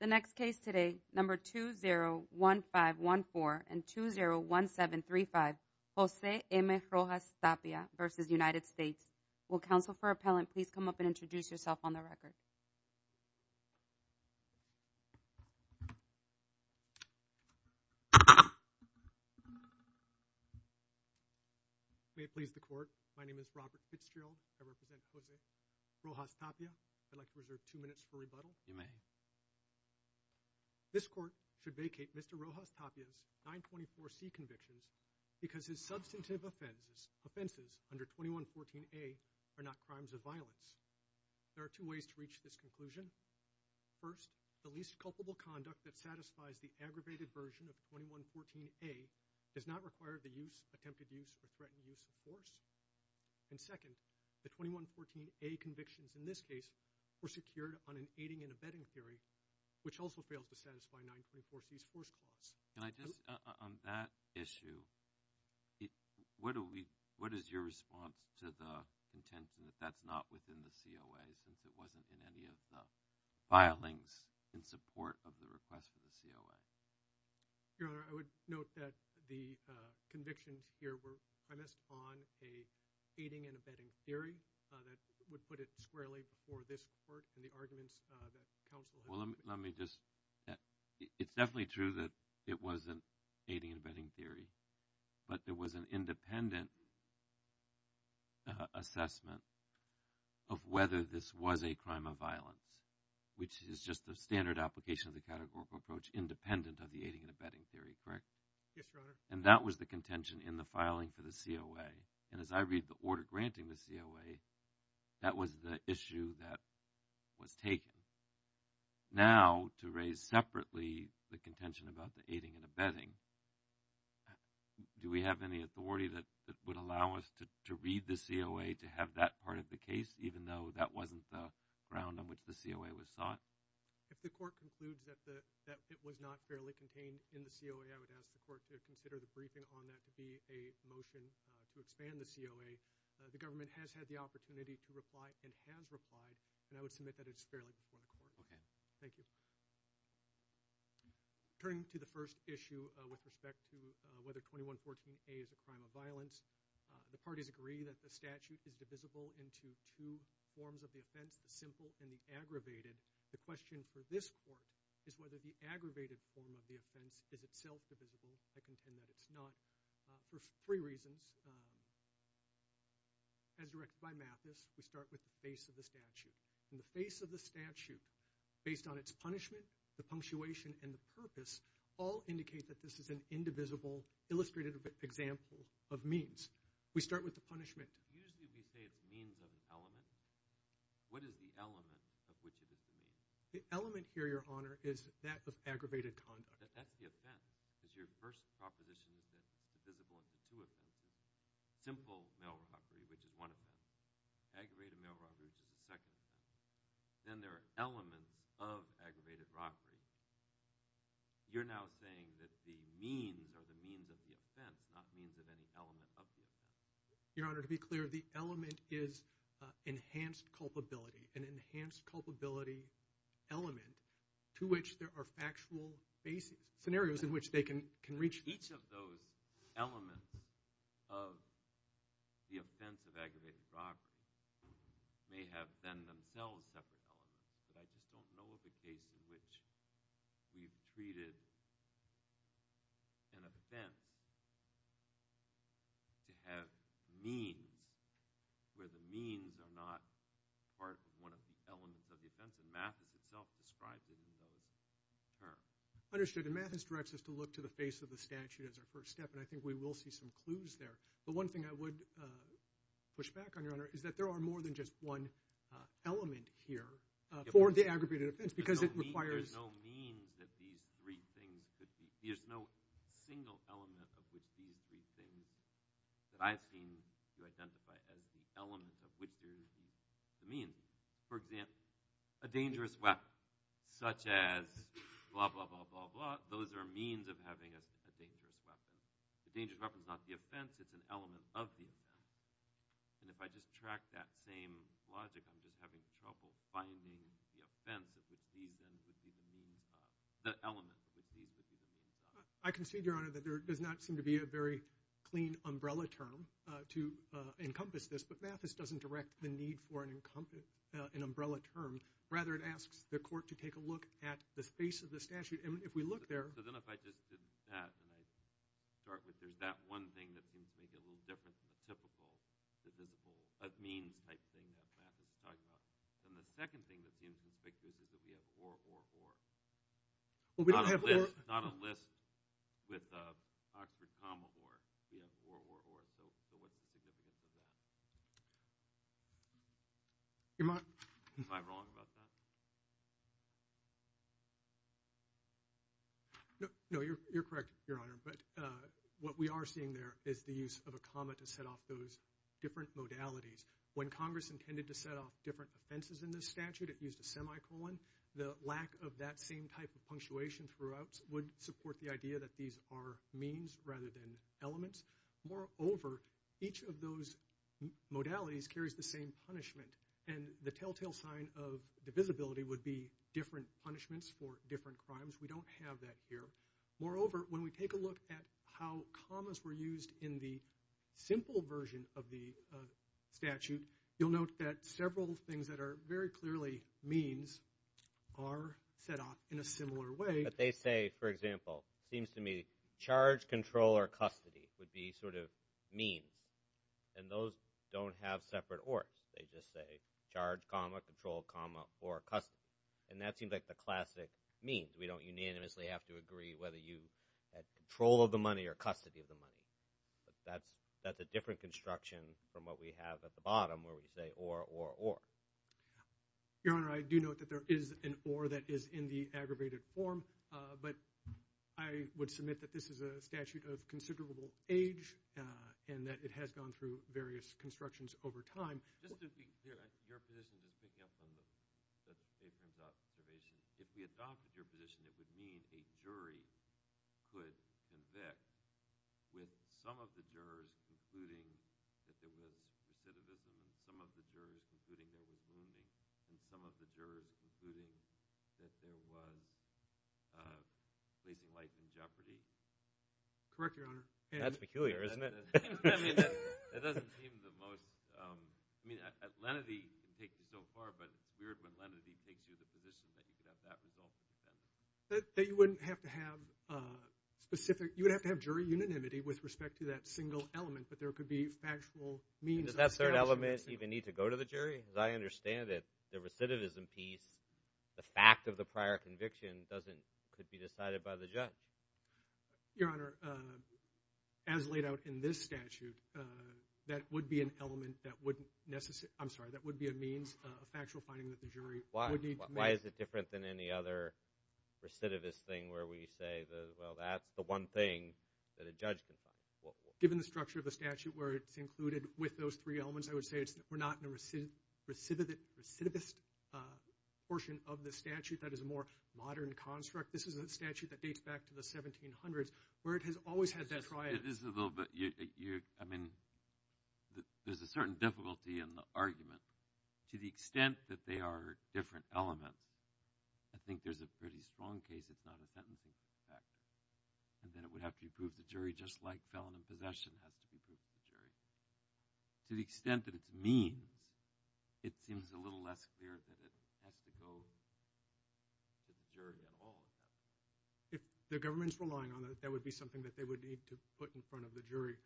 The next case today, number 201514 and 201735, Jose M. Rojas-Tapia v. United States. Will counsel for appellant please come up and introduce yourself on the record? May it please the court, my name is Robert Fitzgerald, I represent Jose Rojas-Tapia. I'd like to reserve two minutes for rebuttal. You may. This court should vacate Mr. Rojas-Tapia's 924C convictions because his substantive offenses, offenses under 2114A are not crimes of violence. There are two ways to reach this conclusion. First, the least culpable conduct that satisfies the aggravated version of 2114A does not require the use, attempted use, or threatened use of force. And second, the 2114A convictions in this case were secured on an aiding and abetting theory, which also fails to satisfy 924C's force clause. Can I just, on that issue, what is your response to the intent that that's not within the COA since it wasn't in any of the filings in support of the request for the COA? Your Honor, I would note that the convictions here were premised on an aiding and abetting theory that would put it squarely before this court and the arguments that counsel had. Well, let me just, it's definitely true that it wasn't aiding and abetting theory, but there was an independent assessment of whether this was a crime of violence, which is just the standard application of the categorical approach independent of the aiding and abetting theory, correct? Yes, Your Honor. And that was the contention in the filing for the COA, and as I read the order granting the COA, that was the issue that was taken. Now, to raise separately the contention about the aiding and abetting, do we have any authority that would allow us to read the COA to have that part of the case, even though that wasn't the ground on which the COA was sought? If the court concludes that it was not fairly contained in the COA, I would ask the court to consider the briefing on that to be a motion to expand the COA. The government has had the opportunity to reply and has replied, and I would submit that it's fairly before the court. Thank you. Turning to the first issue with respect to whether 2114A is a crime of violence, the parties agree that the statute is divisible into two forms of the offense, the simple and the aggravated. The question for this court is whether the aggravated form of the offense is itself divisible. I contend that it's not for three reasons. As directed by Mathis, we start with the face of the statute. The face of the statute, based on its punishment, the punctuation, and the purpose, all indicate that this is an indivisible, illustrated example of means. We start with the punishment. Usually we say it's a means of an element. What is the element of which it is a means? The element here, Your Honor, is that of aggravated conduct. That's the offense. Because your first proposition is that it's divisible into two offenses, simple mail robbery, which is one offense, aggravated mail robbery, which is the second offense. Then there are elements of aggravated robbery. You're now saying that the means are the means of the offense, not means of any element of the offense. Your Honor, to be clear, the element is enhanced culpability, an enhanced culpability element to which there are factual scenarios in which they can reach. Each of those elements of the offense of aggravated robbery may have been themselves separate elements. But I just don't know of a case in which we've treated an offense to have means where the means are not part of one of the elements of the offense. And Mathis itself describes it in those terms. I understood. And Mathis directs us to look to the face of the statute as our first step. And I think we will see some clues there. But one thing I would push back on, Your Honor, is that there are more than just one element here for the aggravated offense because it requires – There's no means that these three things could be – there's no single element of which these three things that I've seen you identify as the element of which there is the means. For example, a dangerous weapon such as blah, blah, blah, blah, blah. Those are means of having a dangerous weapon. The dangerous weapon is not the offense. It's an element of the offense. And if I just track that same logic, I'm just having trouble finding the offense of which these things would be the means – the elements of which these would be the means. I concede, Your Honor, that there does not seem to be a very clean umbrella term to encompass this. But Mathis doesn't direct the need for an umbrella term. Rather, it asks the court to take a look at the face of the statute. If we look there – So then if I just did that and I start with there's that one thing that seems to make it a little different from the typical statistical means type thing that Mathis is talking about, then the second thing that seems to speak to us is that we have or, or, or. Not a list with Oxford comma or. We have or, or, or. So what's the significance of that? Am I wrong about that? No, you're correct, Your Honor. But what we are seeing there is the use of a comma to set off those different modalities. When Congress intended to set off different offenses in this statute, it used a semicolon. The lack of that same type of punctuation throughout would support the idea that these are means rather than elements. Moreover, each of those modalities carries the same punishment. And the telltale sign of divisibility would be different punishments for different crimes. We don't have that here. Moreover, when we take a look at how commas were used in the simple version of the statute, you'll note that several things that are very clearly means are set off in a similar way. But they say, for example, it seems to me, charge, control, or custody would be sort of means. And those don't have separate ors. They just say charge comma, control comma, or custody. And that seems like the classic means. We don't unanimously have to agree whether you have control of the money or custody of the money. But that's a different construction from what we have at the bottom where we say or, or, or. Your Honor, I do note that there is an or that is in the aggravated form. But I would submit that this is a statute of considerable age and that it has gone through various constructions over time. Just to be clear, your position, just picking up on the statement's observation, if we adopted your position, it would mean a jury could convict with some of the jurors, including that there was recidivism in some of the jurors, including there was wounding in some of the jurors, including that there was placing life in jeopardy? Correct, your Honor. That's peculiar, isn't it? I mean, it doesn't seem the most – I mean, lenity can take you so far, but it's weird when lenity takes you to the position that you could have that result. That you wouldn't have to have specific – you would have to have jury unanimity with respect to that single element, but there could be factual means. Does that certain element even need to go to the jury? As I understand it, the recidivism piece, the fact of the prior conviction doesn't – could be decided by the judge. Your Honor, as laid out in this statute, that would be an element that wouldn't – I'm sorry. That would be a means of factual finding that the jury would need to make. Why is it different than any other recidivist thing where we say, well, that's the one thing that a judge can find? Given the structure of the statute where it's included with those three elements, I would say we're not in a recidivist portion of the statute that is a more modern construct. This is a statute that dates back to the 1700s where it has always had that triad. This is a little bit – I mean, there's a certain difficulty in the argument. To the extent that they are different elements, I think there's a pretty strong case it's not a sentencing effect and that it would have to be proved to the jury just like felon in possession has to be proved to the jury. To the extent that it's means, it seems a little less clear that it has to go to the jury at all. If the government's relying on it, that would be something that they would need to put in front of the jury.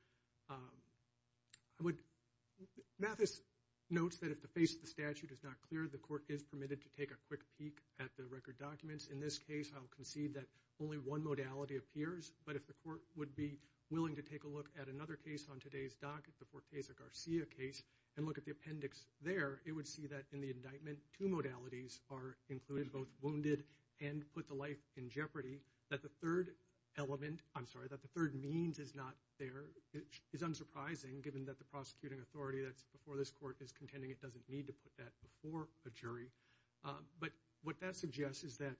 I would – Mathis notes that if the face of the statute is not clear, the court is permitted to take a quick peek at the record documents. In this case, I'll concede that only one modality appears, but if the court would be willing to take a look at another case on today's dock, the Forteza-Garcia case, and look at the appendix there, it would see that in the indictment, two modalities are included, both wounded and put the life in jeopardy. That the third element – I'm sorry, that the third means is not there is unsurprising given that the prosecuting authority that's before this court is contending it doesn't need to put that before a jury. But what that suggests is that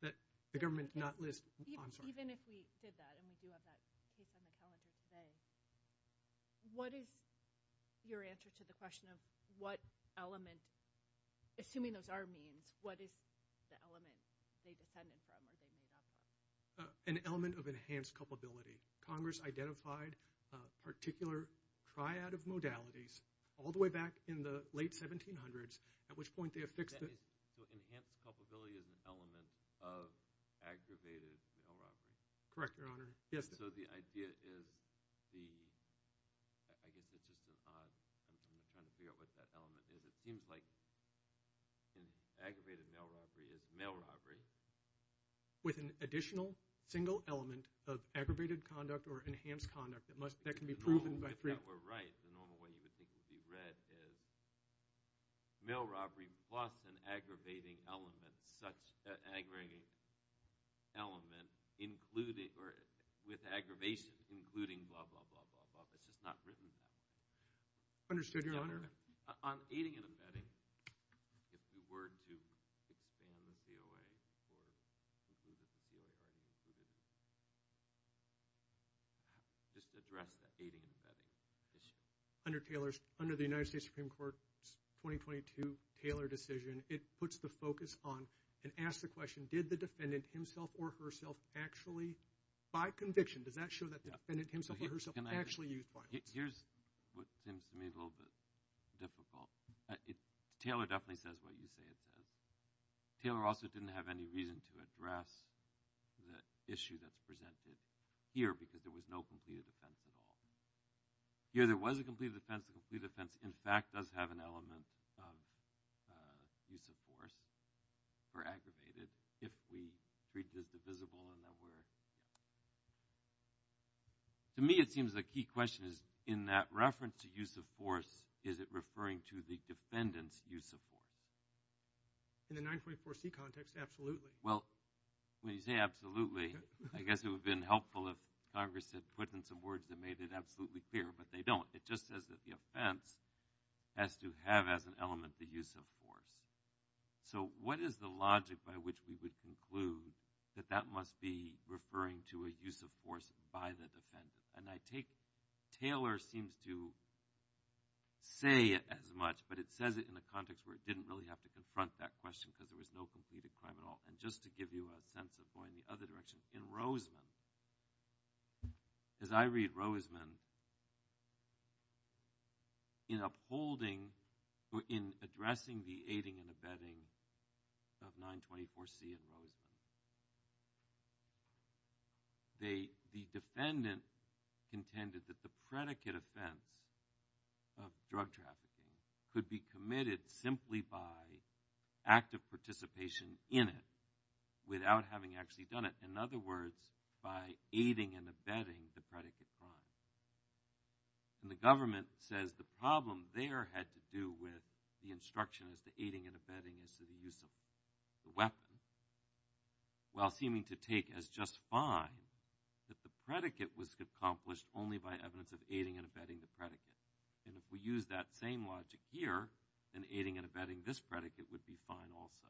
the government not list – I'm sorry. Even if we did that and we do have that case on the calendar today, what is your answer to the question of what element, assuming those are means, what is the element they depended from or they made up for? An element of enhanced culpability. Congress identified particular triad of modalities all the way back in the late 1700s, at which point they affixed the – So enhanced culpability is an element of aggravated mail robbery? Correct, Your Honor. Yes. So the idea is the – I guess it's just an odd – I'm trying to figure out what that element is. It seems like aggravated mail robbery is mail robbery. With an additional single element of aggravated conduct or enhanced conduct that can be proven by three – If that were right, the normal way you would think it would be read is mail robbery plus an aggravating element, such an aggravating element with aggravation, including blah, blah, blah. It's just not written that way. Understood, Your Honor. On aiding and abetting, if you were to expand the COA or reduce the COA, are you going to do the – just address the aiding and abetting issue? Under the United States Supreme Court's 2022 Taylor decision, it puts the focus on and asks the question, did the defendant himself or herself actually – by conviction, does that show that the defendant himself or herself actually used violence? Here's what seems to me a little bit difficult. Taylor definitely says what you say it says. Taylor also didn't have any reason to address the issue that's presented here because there was no completed offense at all. Here there was a completed offense. The completed offense, in fact, does have an element of use of force for aggravated if we treat this divisible in that we're – to me it seems the key question is in that reference to use of force, is it referring to the defendant's use of force? In the 924C context, absolutely. Well, when you say absolutely, I guess it would have been helpful if Congress had put in some words that made it absolutely clear, but they don't. It just says that the offense has to have as an element the use of force. So what is the logic by which we would conclude that that must be referring to a use of force by the defendant? And I take Taylor seems to say as much, but it says it in the context where it didn't really have to confront that question because there was no completed crime at all. And just to give you a sense of going the other direction, in Roseman, as I read Roseman, in upholding or in addressing the aiding and abetting of 924C in Roseman, the defendant contended that the predicate offense of drug trafficking could be committed simply by active participation in it without having actually done it. In other words, by aiding and abetting the predicate crime. And the government says the problem there had to do with the instruction as to aiding and abetting as to the use of the weapon, while seeming to take as just fine that the predicate was accomplished only by evidence of aiding and abetting the predicate. And if we use that same logic here, then aiding and abetting this predicate would be fine also.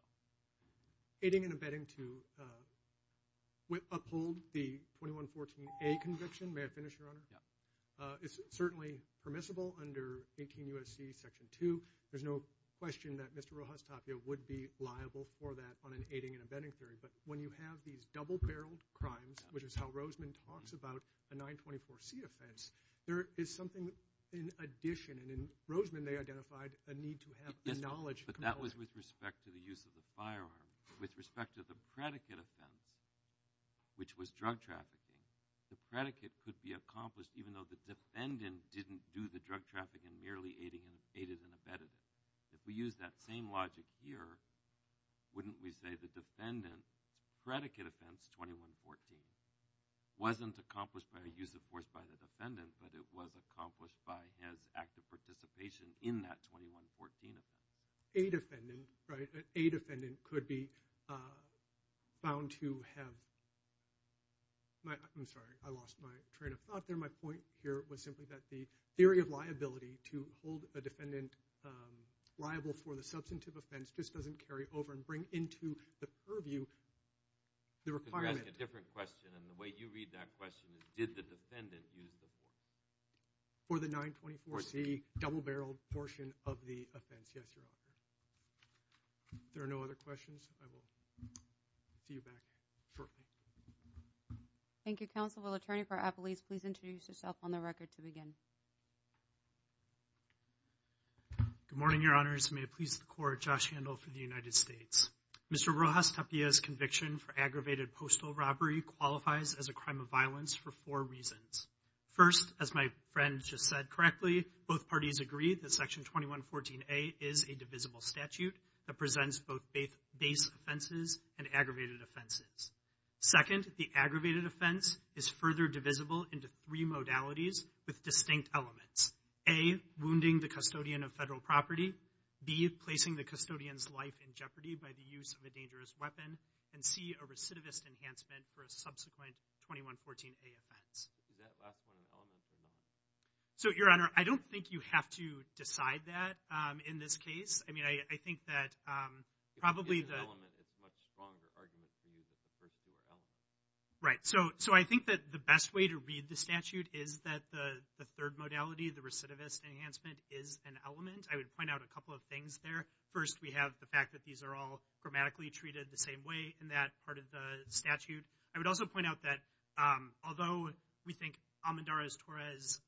Aiding and abetting to uphold the 2114A conviction. May I finish, Your Honor? Yeah. It's certainly permissible under 18 U.S.C. Section 2. There's no question that Mr. Rojas Tapia would be liable for that on an aiding and abetting theory. But when you have these double-barreled crimes, which is how Roseman talks about a 924C offense, there is something in addition. And in Roseman, they identified a need to have the knowledge. But that was with respect to the use of the firearm. With respect to the predicate offense, which was drug trafficking, the predicate could be accomplished even though the defendant didn't do the drug trafficking, merely aiding and abetting it. If we use that same logic here, wouldn't we say the defendant's predicate offense, 2114, wasn't accomplished by a use of force by the defendant, but it was accomplished by his active participation in that 2114 offense? A defendant, right, a defendant could be found to have my, I'm sorry, I lost my train of thought there. My point here was simply that the theory of liability to hold a defendant liable for the substantive offense just doesn't carry over and bring into the purview the requirement. You're asking a different question, and the way you read that question is did the defendant use the force? For the 924C double-barreled portion of the offense, yes, Your Honor. If there are no other questions, I will see you back shortly. Thank you, Counsel. Will Attorney for Appalachia please introduce herself on the record to begin? Good morning, Your Honors. May it please the Court, Josh Handel for the United States. Mr. Rojas Tapia's conviction for aggravated postal robbery qualifies as a crime of violence for four reasons. First, as my friend just said correctly, both parties agree that Section 2114A is a divisible statute that presents both base offenses and aggravated offenses. Second, the aggravated offense is further divisible into three modalities with distinct elements. A, wounding the custodian of federal property. B, placing the custodian's life in jeopardy by the use of a dangerous weapon. And C, a recidivist enhancement for a subsequent 2114A offense. Is that last one an element or not? So, Your Honor, I don't think you have to decide that in this case. I mean, I think that probably the— If it's an element, it's a much stronger argument for you that the first two are elements. Right, so I think that the best way to read the statute is that the third modality, the recidivist enhancement, is an element. I would point out a couple of things there. First, we have the fact that these are all grammatically treated the same way in that part of the statute. I would also point out that although we think Almendarez-Torres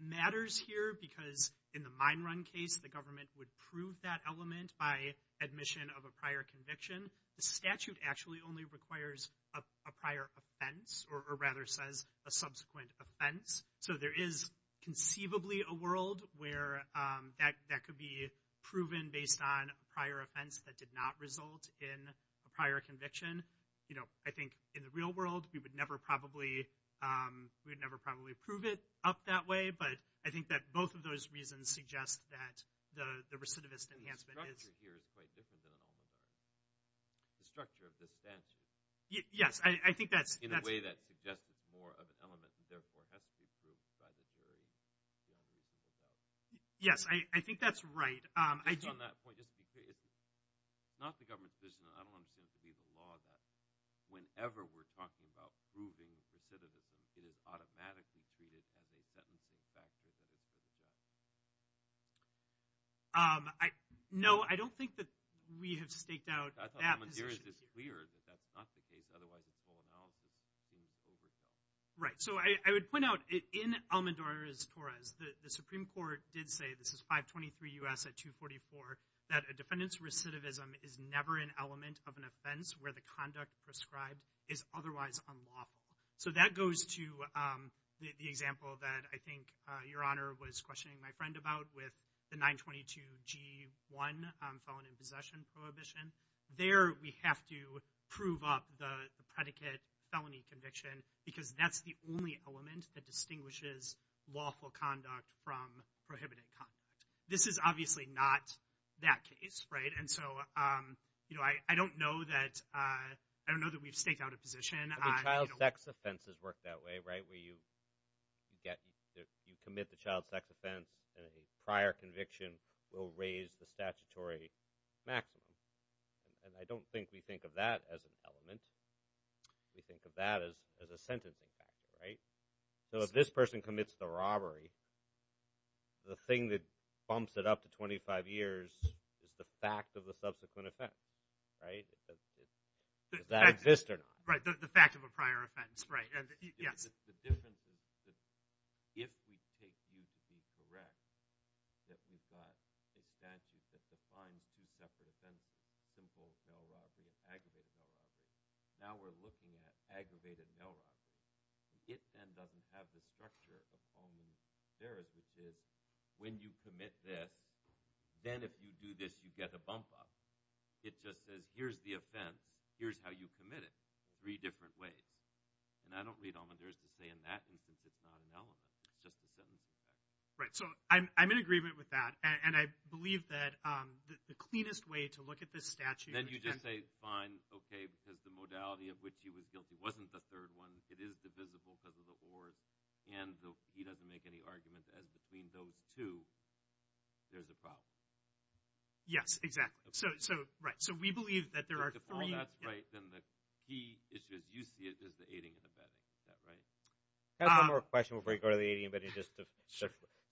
matters here because in the mine run case the government would prove that element by admission of a prior conviction, the statute actually only requires a prior offense, or rather says a subsequent offense. So there is conceivably a world where that could be proven based on a prior offense that did not result in a prior conviction. I think in the real world we would never probably prove it up that way, but I think that both of those reasons suggest that the recidivist enhancement is— The structure of the statute— Yes, I think that's— In a way that suggests it's more of an element and therefore has to be proved by the jury beyond reason of doubt. Yes, I think that's right. Just on that point, just to be clear, it's not the government's decision. I don't understand it to be the law that whenever we're talking about proving recidivism, it is automatically treated as a sentencing factor that it would address. No, I don't think that we have staked out— I thought Almendarez just cleared that that's not the case. Otherwise, it's full analysis being overshadowed. Right. So I would point out in Almendarez-Torres, the Supreme Court did say—this is 523 U.S. at 244— that a defendant's recidivism is never an element of an offense where the conduct prescribed is otherwise unlawful. So that goes to the example that I think Your Honor was questioning my friend about with the 922G1 felon in possession prohibition. There we have to prove up the predicate felony conviction because that's the only element that distinguishes lawful conduct from prohibited conduct. This is obviously not that case. And so I don't know that we've staked out a position. Child sex offenses work that way, right, where you commit the child sex offense, and a prior conviction will raise the statutory maximum. And I don't think we think of that as an element. We think of that as a sentencing factor, right? So if this person commits the robbery, the thing that bumps it up to 25 years is the fact of the subsequent offense, right? Does that exist or not? Right, the fact of a prior offense, right. Yes? The difference is that if we take you to be correct, that we've got a statute that defines two separate offenses, simple mail robbery and aggravated mail robbery. Now we're looking at aggravated mail robbery. It then doesn't have the structure of only there is, which is when you commit this, then if you do this, you get a bump up. It just says here's the offense, here's how you commit it, three different ways. And I don't read all that there is to say in that instance it's not an element. It's just a sentencing factor. Right, so I'm in agreement with that. And I believe that the cleanest way to look at this statute. Then you just say fine, okay, because the modality of which he was guilty wasn't the third one. It is divisible because of the ors. And he doesn't make any arguments as between those two, there's a problem. Yes, exactly. Right, so we believe that there are three. If all that's right, then the key issue, as you see it, is the aiding and abetting. Is that right? I have one more question before we go to the aiding and abetting.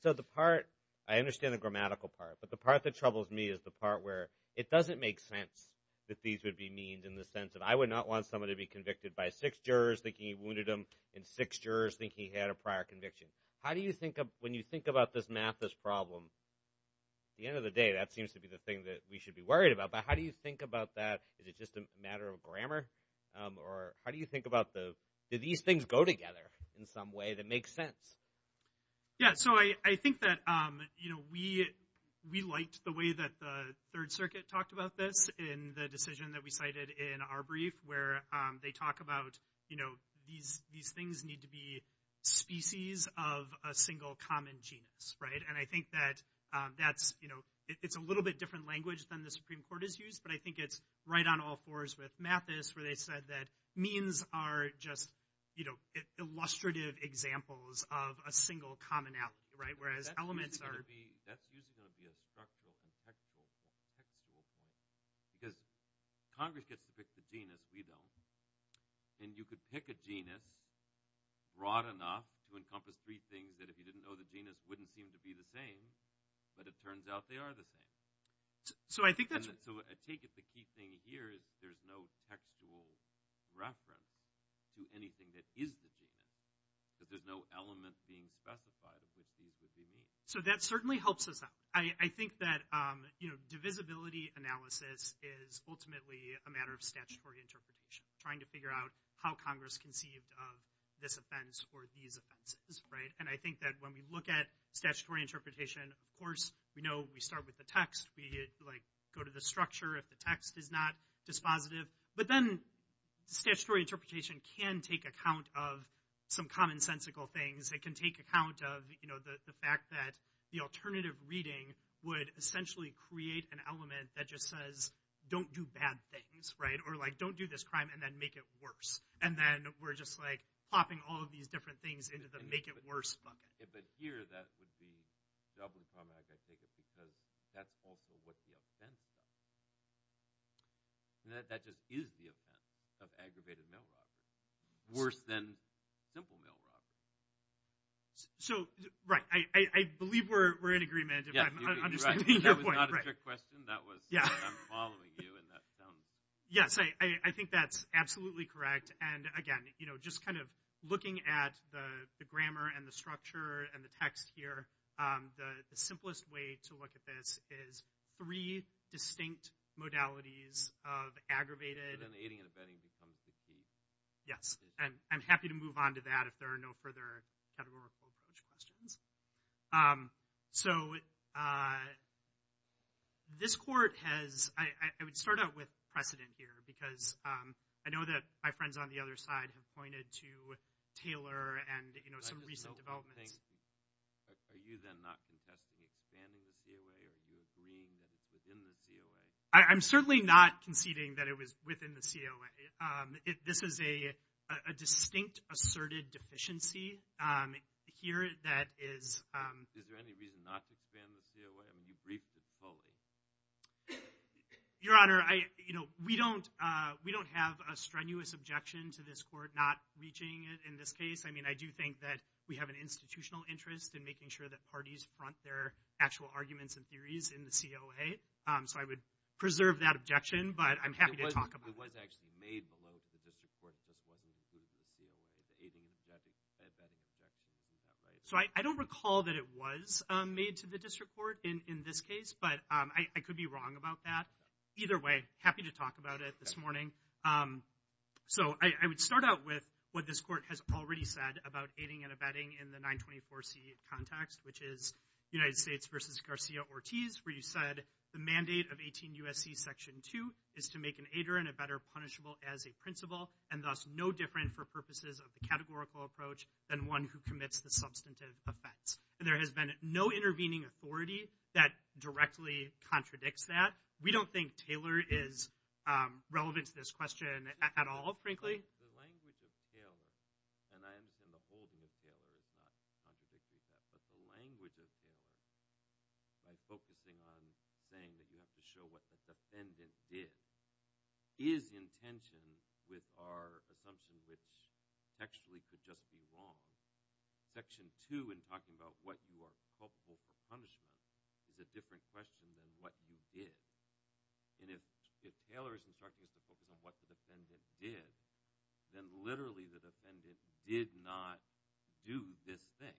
So the part, I understand the grammatical part, but the part that troubles me is the part where it doesn't make sense that these would be means in the sense that I would not want someone to be convicted by six jurors thinking he wounded him and six jurors thinking he had a prior conviction. How do you think, when you think about this math, this problem, at the end of the day, that seems to be the thing that we should be worried about. But how do you think about that? Is it just a matter of grammar? Or how do you think about the, do these things go together in some way that makes sense? Yeah, so I think that, you know, we liked the way that the Third Circuit talked about this in the decision that we cited in our brief where they talk about, you know, these things need to be species of a single common genus, right? And I think that that's, you know, it's a little bit different language than the Supreme Court has used, but I think it's right on all fours with Mathis where they said that means are just, you know, illustrative examples of a single commonality, right, whereas elements are- That's usually going to be a structural, contextual point. Because Congress gets to pick the genus, we don't. And you could pick a genus broad enough to encompass three things that if you didn't know the genus wouldn't seem to be the same, but it turns out they are the same. So I think that's- So I take it the key thing here is there's no textual reference to anything that is the genus, that there's no element being specified of which these would be mean. So that certainly helps us out. I think that, you know, divisibility analysis is ultimately a matter of statutory interpretation, trying to figure out how Congress conceived of this offense or these offenses, right? And I think that when we look at statutory interpretation, of course, we know we start with the text. We, like, go to the structure if the text is not dispositive. But then statutory interpretation can take account of some commonsensical things. It can take account of, you know, the fact that the alternative reading would essentially create an element that just says don't do bad things, right? Or, like, don't do this crime and then make it worse. And then we're just, like, plopping all of these different things into the make it worse bucket. But here that would be doubly problematic, I think, because that's also what the offense is about. That just is the offense of aggravated mail robbery. Worse than simple mail robbery. So, right. I believe we're in agreement if I'm understanding your point. That was not a trick question. That was I'm following you. Yes, I think that's absolutely correct. And, again, you know, just kind of looking at the grammar and the structure and the text here, the simplest way to look at this is three distinct modalities of aggravated. And then aiding and abetting becomes the key. Yes. And I'm happy to move on to that if there are no further categorical approach questions. So this court has ‑‑ I would start out with precedent here because I know that my friends on the other side have pointed to Taylor and, you know, some recent developments. Are you then not contesting expanding the COA? Are you agreeing that it's within the COA? I'm certainly not conceding that it was within the COA. This is a distinct asserted deficiency here that is ‑‑ Is there any reason not to expand the COA? I mean, you briefed it fully. Your Honor, you know, we don't have a strenuous objection to this court not reaching it in this case. I mean, I do think that we have an institutional interest in making sure that parties front their actual arguments and theories in the COA. So I would preserve that objection, but I'm happy to talk about it. It was actually made below to the district court if this wasn't included in the COA, the aiding and abetting objection to that, right? So I don't recall that it was made to the district court in this case, but I could be wrong about that. Either way, happy to talk about it this morning. So I would start out with what this court has already said about aiding and abetting in the 924C context, which is United States v. Garcia-Ortiz, where you said, the mandate of 18 U.S.C. Section 2 is to make an aider and abetter punishable as a principal and thus no different for purposes of the categorical approach than one who commits the substantive offense. There has been no intervening authority that directly contradicts that. We don't think Taylor is relevant to this question at all, frankly. The language of Taylor, and I understand the holding of Taylor is not contradictory to that, but the language of Taylor by focusing on saying that you have to show what the defendant did is in tension with our assumption which textually could just be wrong. Section 2 in talking about what you are culpable for punishment is a different question than what you did. And if Taylor is instructing us to focus on what the defendant did, then literally the defendant did not do this thing.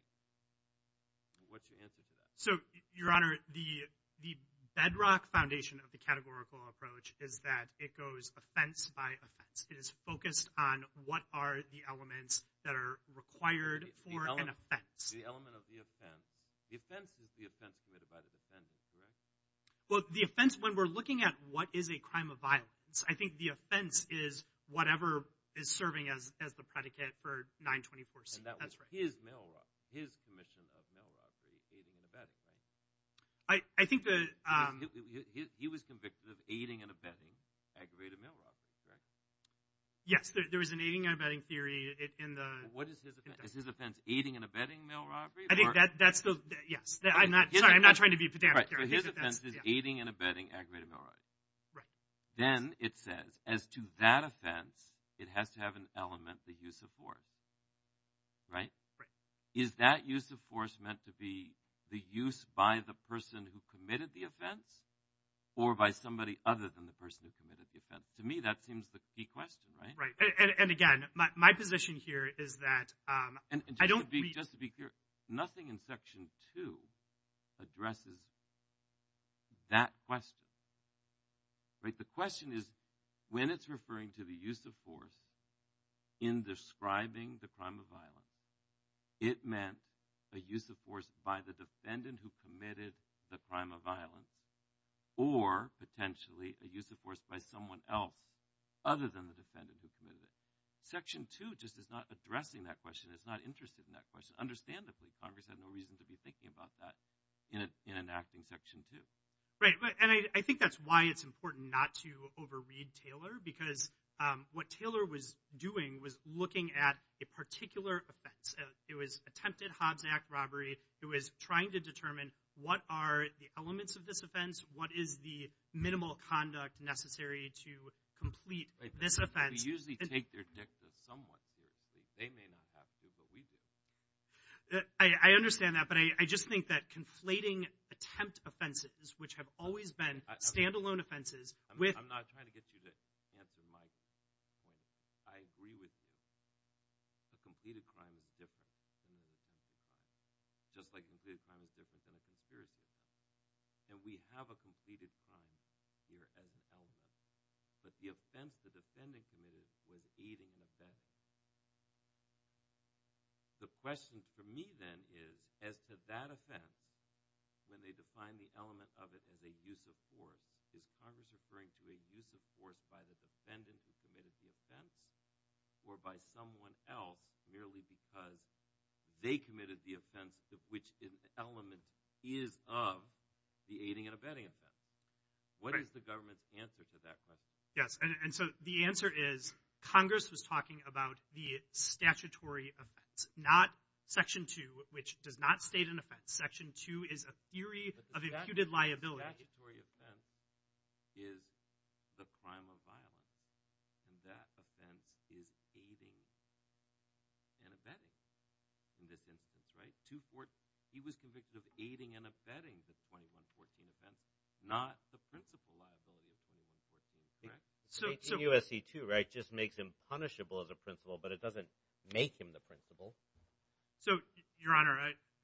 What's your answer to that? So, Your Honor, the bedrock foundation of the categorical approach is that it goes offense by offense. It is focused on what are the elements that are required for an offense. The element of the offense. The offense is the offense committed by the defendant, correct? Well, the offense, when we're looking at what is a crime of violence, I think the offense is whatever is serving as the predicate for 924C. And that was his commission of mail robbery, aiding and abetting, right? He was convicted of aiding and abetting aggravated mail robbery, correct? Yes, there was an aiding and abetting theory in the – What is his offense? Is his offense aiding and abetting mail robbery? I think that's the – yes. Sorry, I'm not trying to be pedantic here. His offense is aiding and abetting aggravated mail robbery. Then it says, as to that offense, it has to have an element, the use of force, right? Is that use of force meant to be the use by the person who committed the offense or by somebody other than the person who committed the offense? To me, that seems the key question, right? Right. And, again, my position here is that I don't – Just to be clear, nothing in Section 2 addresses that question, right? The question is, when it's referring to the use of force in describing the crime of violence, it meant a use of force by the defendant who committed the crime of violence or potentially a use of force by someone else other than the defendant who committed it. Section 2 just is not addressing that question. It's not interested in that question. Understandably, Congress had no reason to be thinking about that in enacting Section 2. Right. And I think that's why it's important not to overread Taylor because what Taylor was doing was looking at a particular offense. It was attempted Hobbs Act robbery. It was trying to determine what are the elements of this offense, what is the minimal conduct necessary to complete this offense. They usually take their dicta somewhat seriously. They may not have to, but we do. I understand that, but I just think that conflating attempt offenses, which have always been stand-alone offenses with – I'm not trying to get you to answer my point. I agree with you. A completed crime is different than a conspiracy crime. Just like a completed crime is different than a conspiracy crime. And we have a completed crime here as an element. But the offense the defendant committed was aiding and abetting. The question for me then is as to that offense, when they define the element of it as a use of force, is Congress referring to a use of force by the defendant who committed the offense or by someone else merely because they committed the offense of which an element is of the aiding and abetting offense? What is the government's answer to that question? Yes. And so the answer is Congress was talking about the statutory offense, not Section 2, which does not state an offense. Section 2 is a theory of imputed liability. But the statutory offense is the crime of violence, and that offense is aiding and abetting in this instance, right? He was convicted of aiding and abetting the 2114 offense, not the principal liability of 2114, right? 18 U.S.C. 2, right, just makes him punishable as a principal, but it doesn't make him the principal. So, Your Honor,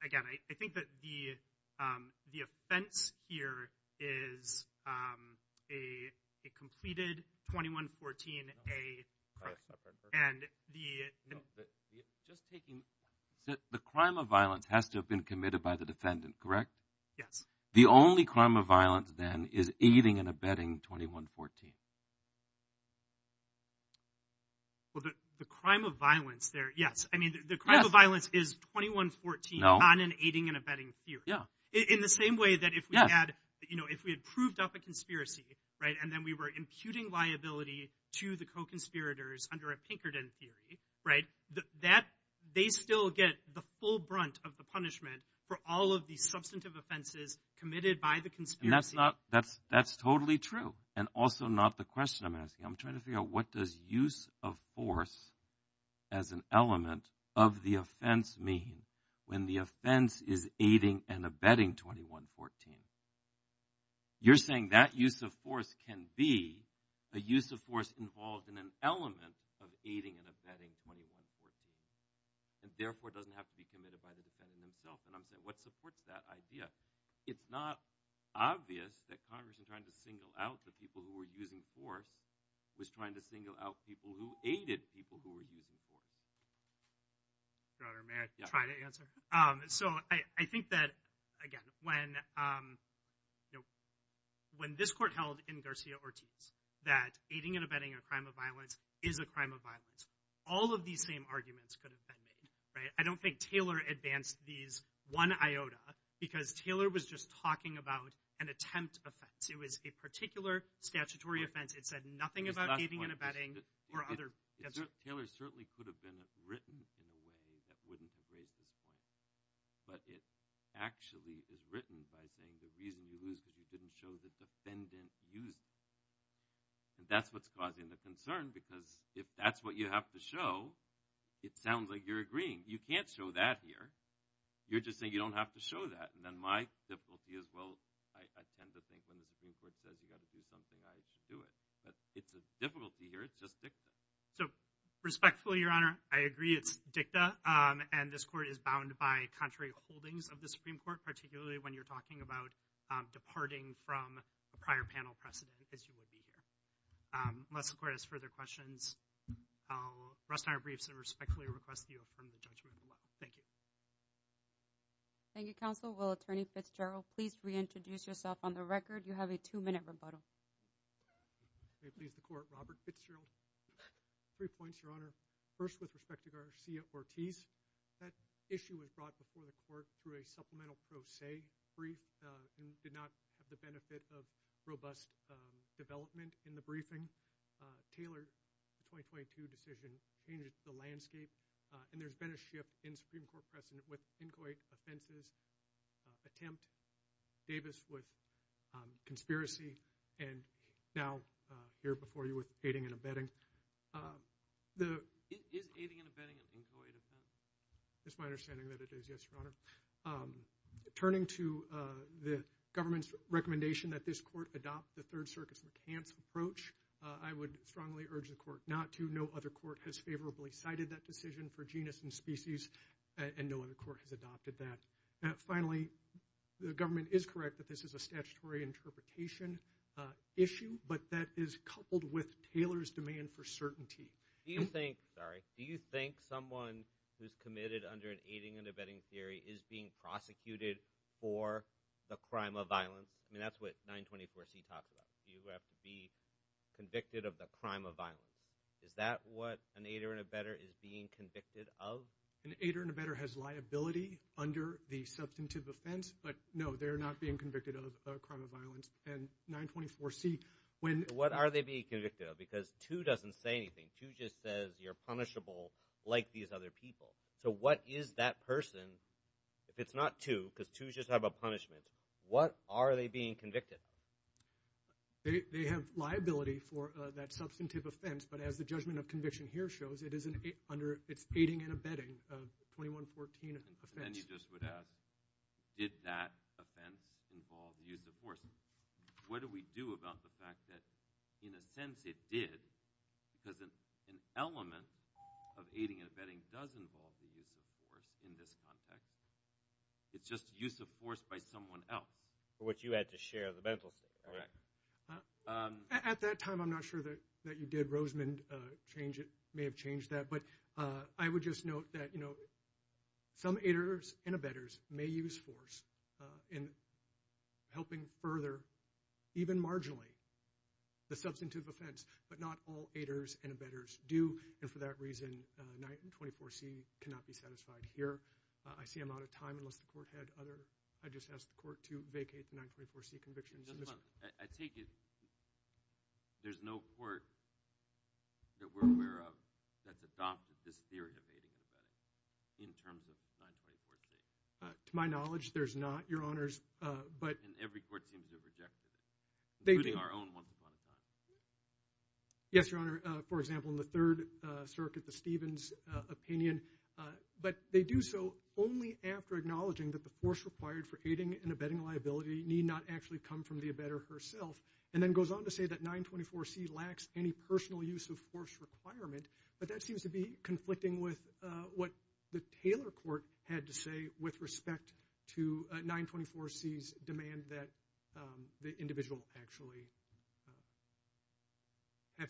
again, I think that the offense here is a completed 2114A. And the – Just taking – the crime of violence has to have been committed by the defendant, correct? Yes. The only crime of violence, then, is aiding and abetting 2114. Well, the crime of violence there, yes. I mean, the crime of violence is 2114 on an aiding and abetting theory. In the same way that if we had proved up a conspiracy, right, and then we were imputing liability to the co-conspirators under a Pinkerton theory, right, they still get the full brunt of the punishment for all of these substantive offenses committed by the conspiracy. And that's not – that's totally true, and also not the question I'm asking. I'm trying to figure out what does use of force as an element of the offense mean when the offense is aiding and abetting 2114. You're saying that use of force can be a use of force involved in an element of aiding and abetting 2114, and therefore doesn't have to be committed by the defendant himself. And I'm saying what supports that idea? It's not obvious that Congress, in trying to single out the people who were using force, was trying to single out people who aided people who were using force. Your Honor, may I try to answer? So I think that, again, when this court held in Garcia-Ortiz that aiding and abetting a crime of violence is a crime of violence, all of these same arguments could have been made, right? I don't think Taylor advanced these one iota because Taylor was just talking about an attempt offense. It was a particular statutory offense. It said nothing about aiding and abetting or other – Taylor certainly could have been written in a way that wouldn't have raised this point. But it actually is written by saying the reason you lose is because you didn't show the defendant using force. And that's what's causing the concern because if that's what you have to show, it sounds like you're agreeing. You can't show that here. You're just saying you don't have to show that. And then my difficulty is, well, I tend to think when the Supreme Court says you've got to do something, I should do it. But it's a difficulty here. It's just dicta. So respectfully, Your Honor, I agree it's dicta, and this court is bound by contrary holdings of the Supreme Court, particularly when you're talking about departing from a prior panel precedent, as you would be here. Unless the Court has further questions, I'll rest on our briefs and respectfully request that you affirm the judgment. Thank you. Thank you, Counsel. Will Attorney Fitzgerald please reintroduce yourself on the record? You have a two-minute rebuttal. May it please the Court, Robert Fitzgerald. Three points, Your Honor. First, with respect to Garcia-Ortiz, that issue was brought before the Court through a supplemental pro se brief and did not have the benefit of robust development in the briefing. Tailored the 2022 decision, changed the landscape, and there's been a shift in Supreme Court precedent with inchoate offenses attempt, Davis with conspiracy, and now here before you with aiding and abetting. Is aiding and abetting an inchoate offense? It's my understanding that it is, yes, Your Honor. Turning to the government's recommendation that this court adopt the Third Circuit's McCants approach, I would strongly urge the Court not to. No other court has favorably cited that decision for genus and species, and no other court has adopted that. Finally, the government is correct that this is a statutory interpretation issue, but that is coupled with Taylor's demand for certainty. Do you think someone who's committed under an aiding and abetting theory is being prosecuted for the crime of violence? I mean, that's what 924C talks about. You have to be convicted of the crime of violence. Is that what an aider and abetter is being convicted of? An aider and abetter has liability under the substantive offense, but no, they're not being convicted of a crime of violence. What are they being convicted of? Because 2 doesn't say anything. 2 just says you're punishable like these other people. So what is that person, if it's not 2, because 2's just talking about punishment, what are they being convicted of? They have liability for that substantive offense, but as the judgment of conviction here shows, it's aiding and abetting a 2114 offense. And then you just would ask, did that offense involve the use of force? What do we do about the fact that, in a sense, it did, because an element of aiding and abetting does involve the use of force in this context. It's just the use of force by someone else. Which you had to share the mental state. At that time, I'm not sure that you did. Rosemond may have changed that. But I would just note that some aiders and abettors may use force in helping further, even marginally, the substantive offense, but not all aiders and abettors do. And for that reason, 924C cannot be satisfied here. I see I'm out of time, unless the court had other— I just asked the court to vacate the 924C convictions. I take it there's no court that we're aware of that's adopted this theory of aiding and abetting in terms of 924C? To my knowledge, there's not, Your Honors. And every court seems to have rejected it, including our own once upon a time. Yes, Your Honor. For example, in the Third Circuit, the Stevens opinion. But they do so only after acknowledging that the force required for aiding and abetting liability need not actually come from the abettor herself, and then goes on to say that 924C lacks any personal use of force requirement. But that seems to be conflicting with what the Taylor court had to say with respect to 924C's demand that the individual actually have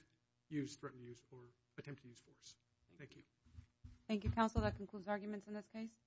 used, threatened to use, or attempt to use force. Thank you. Thank you, counsel. That concludes arguments in this case.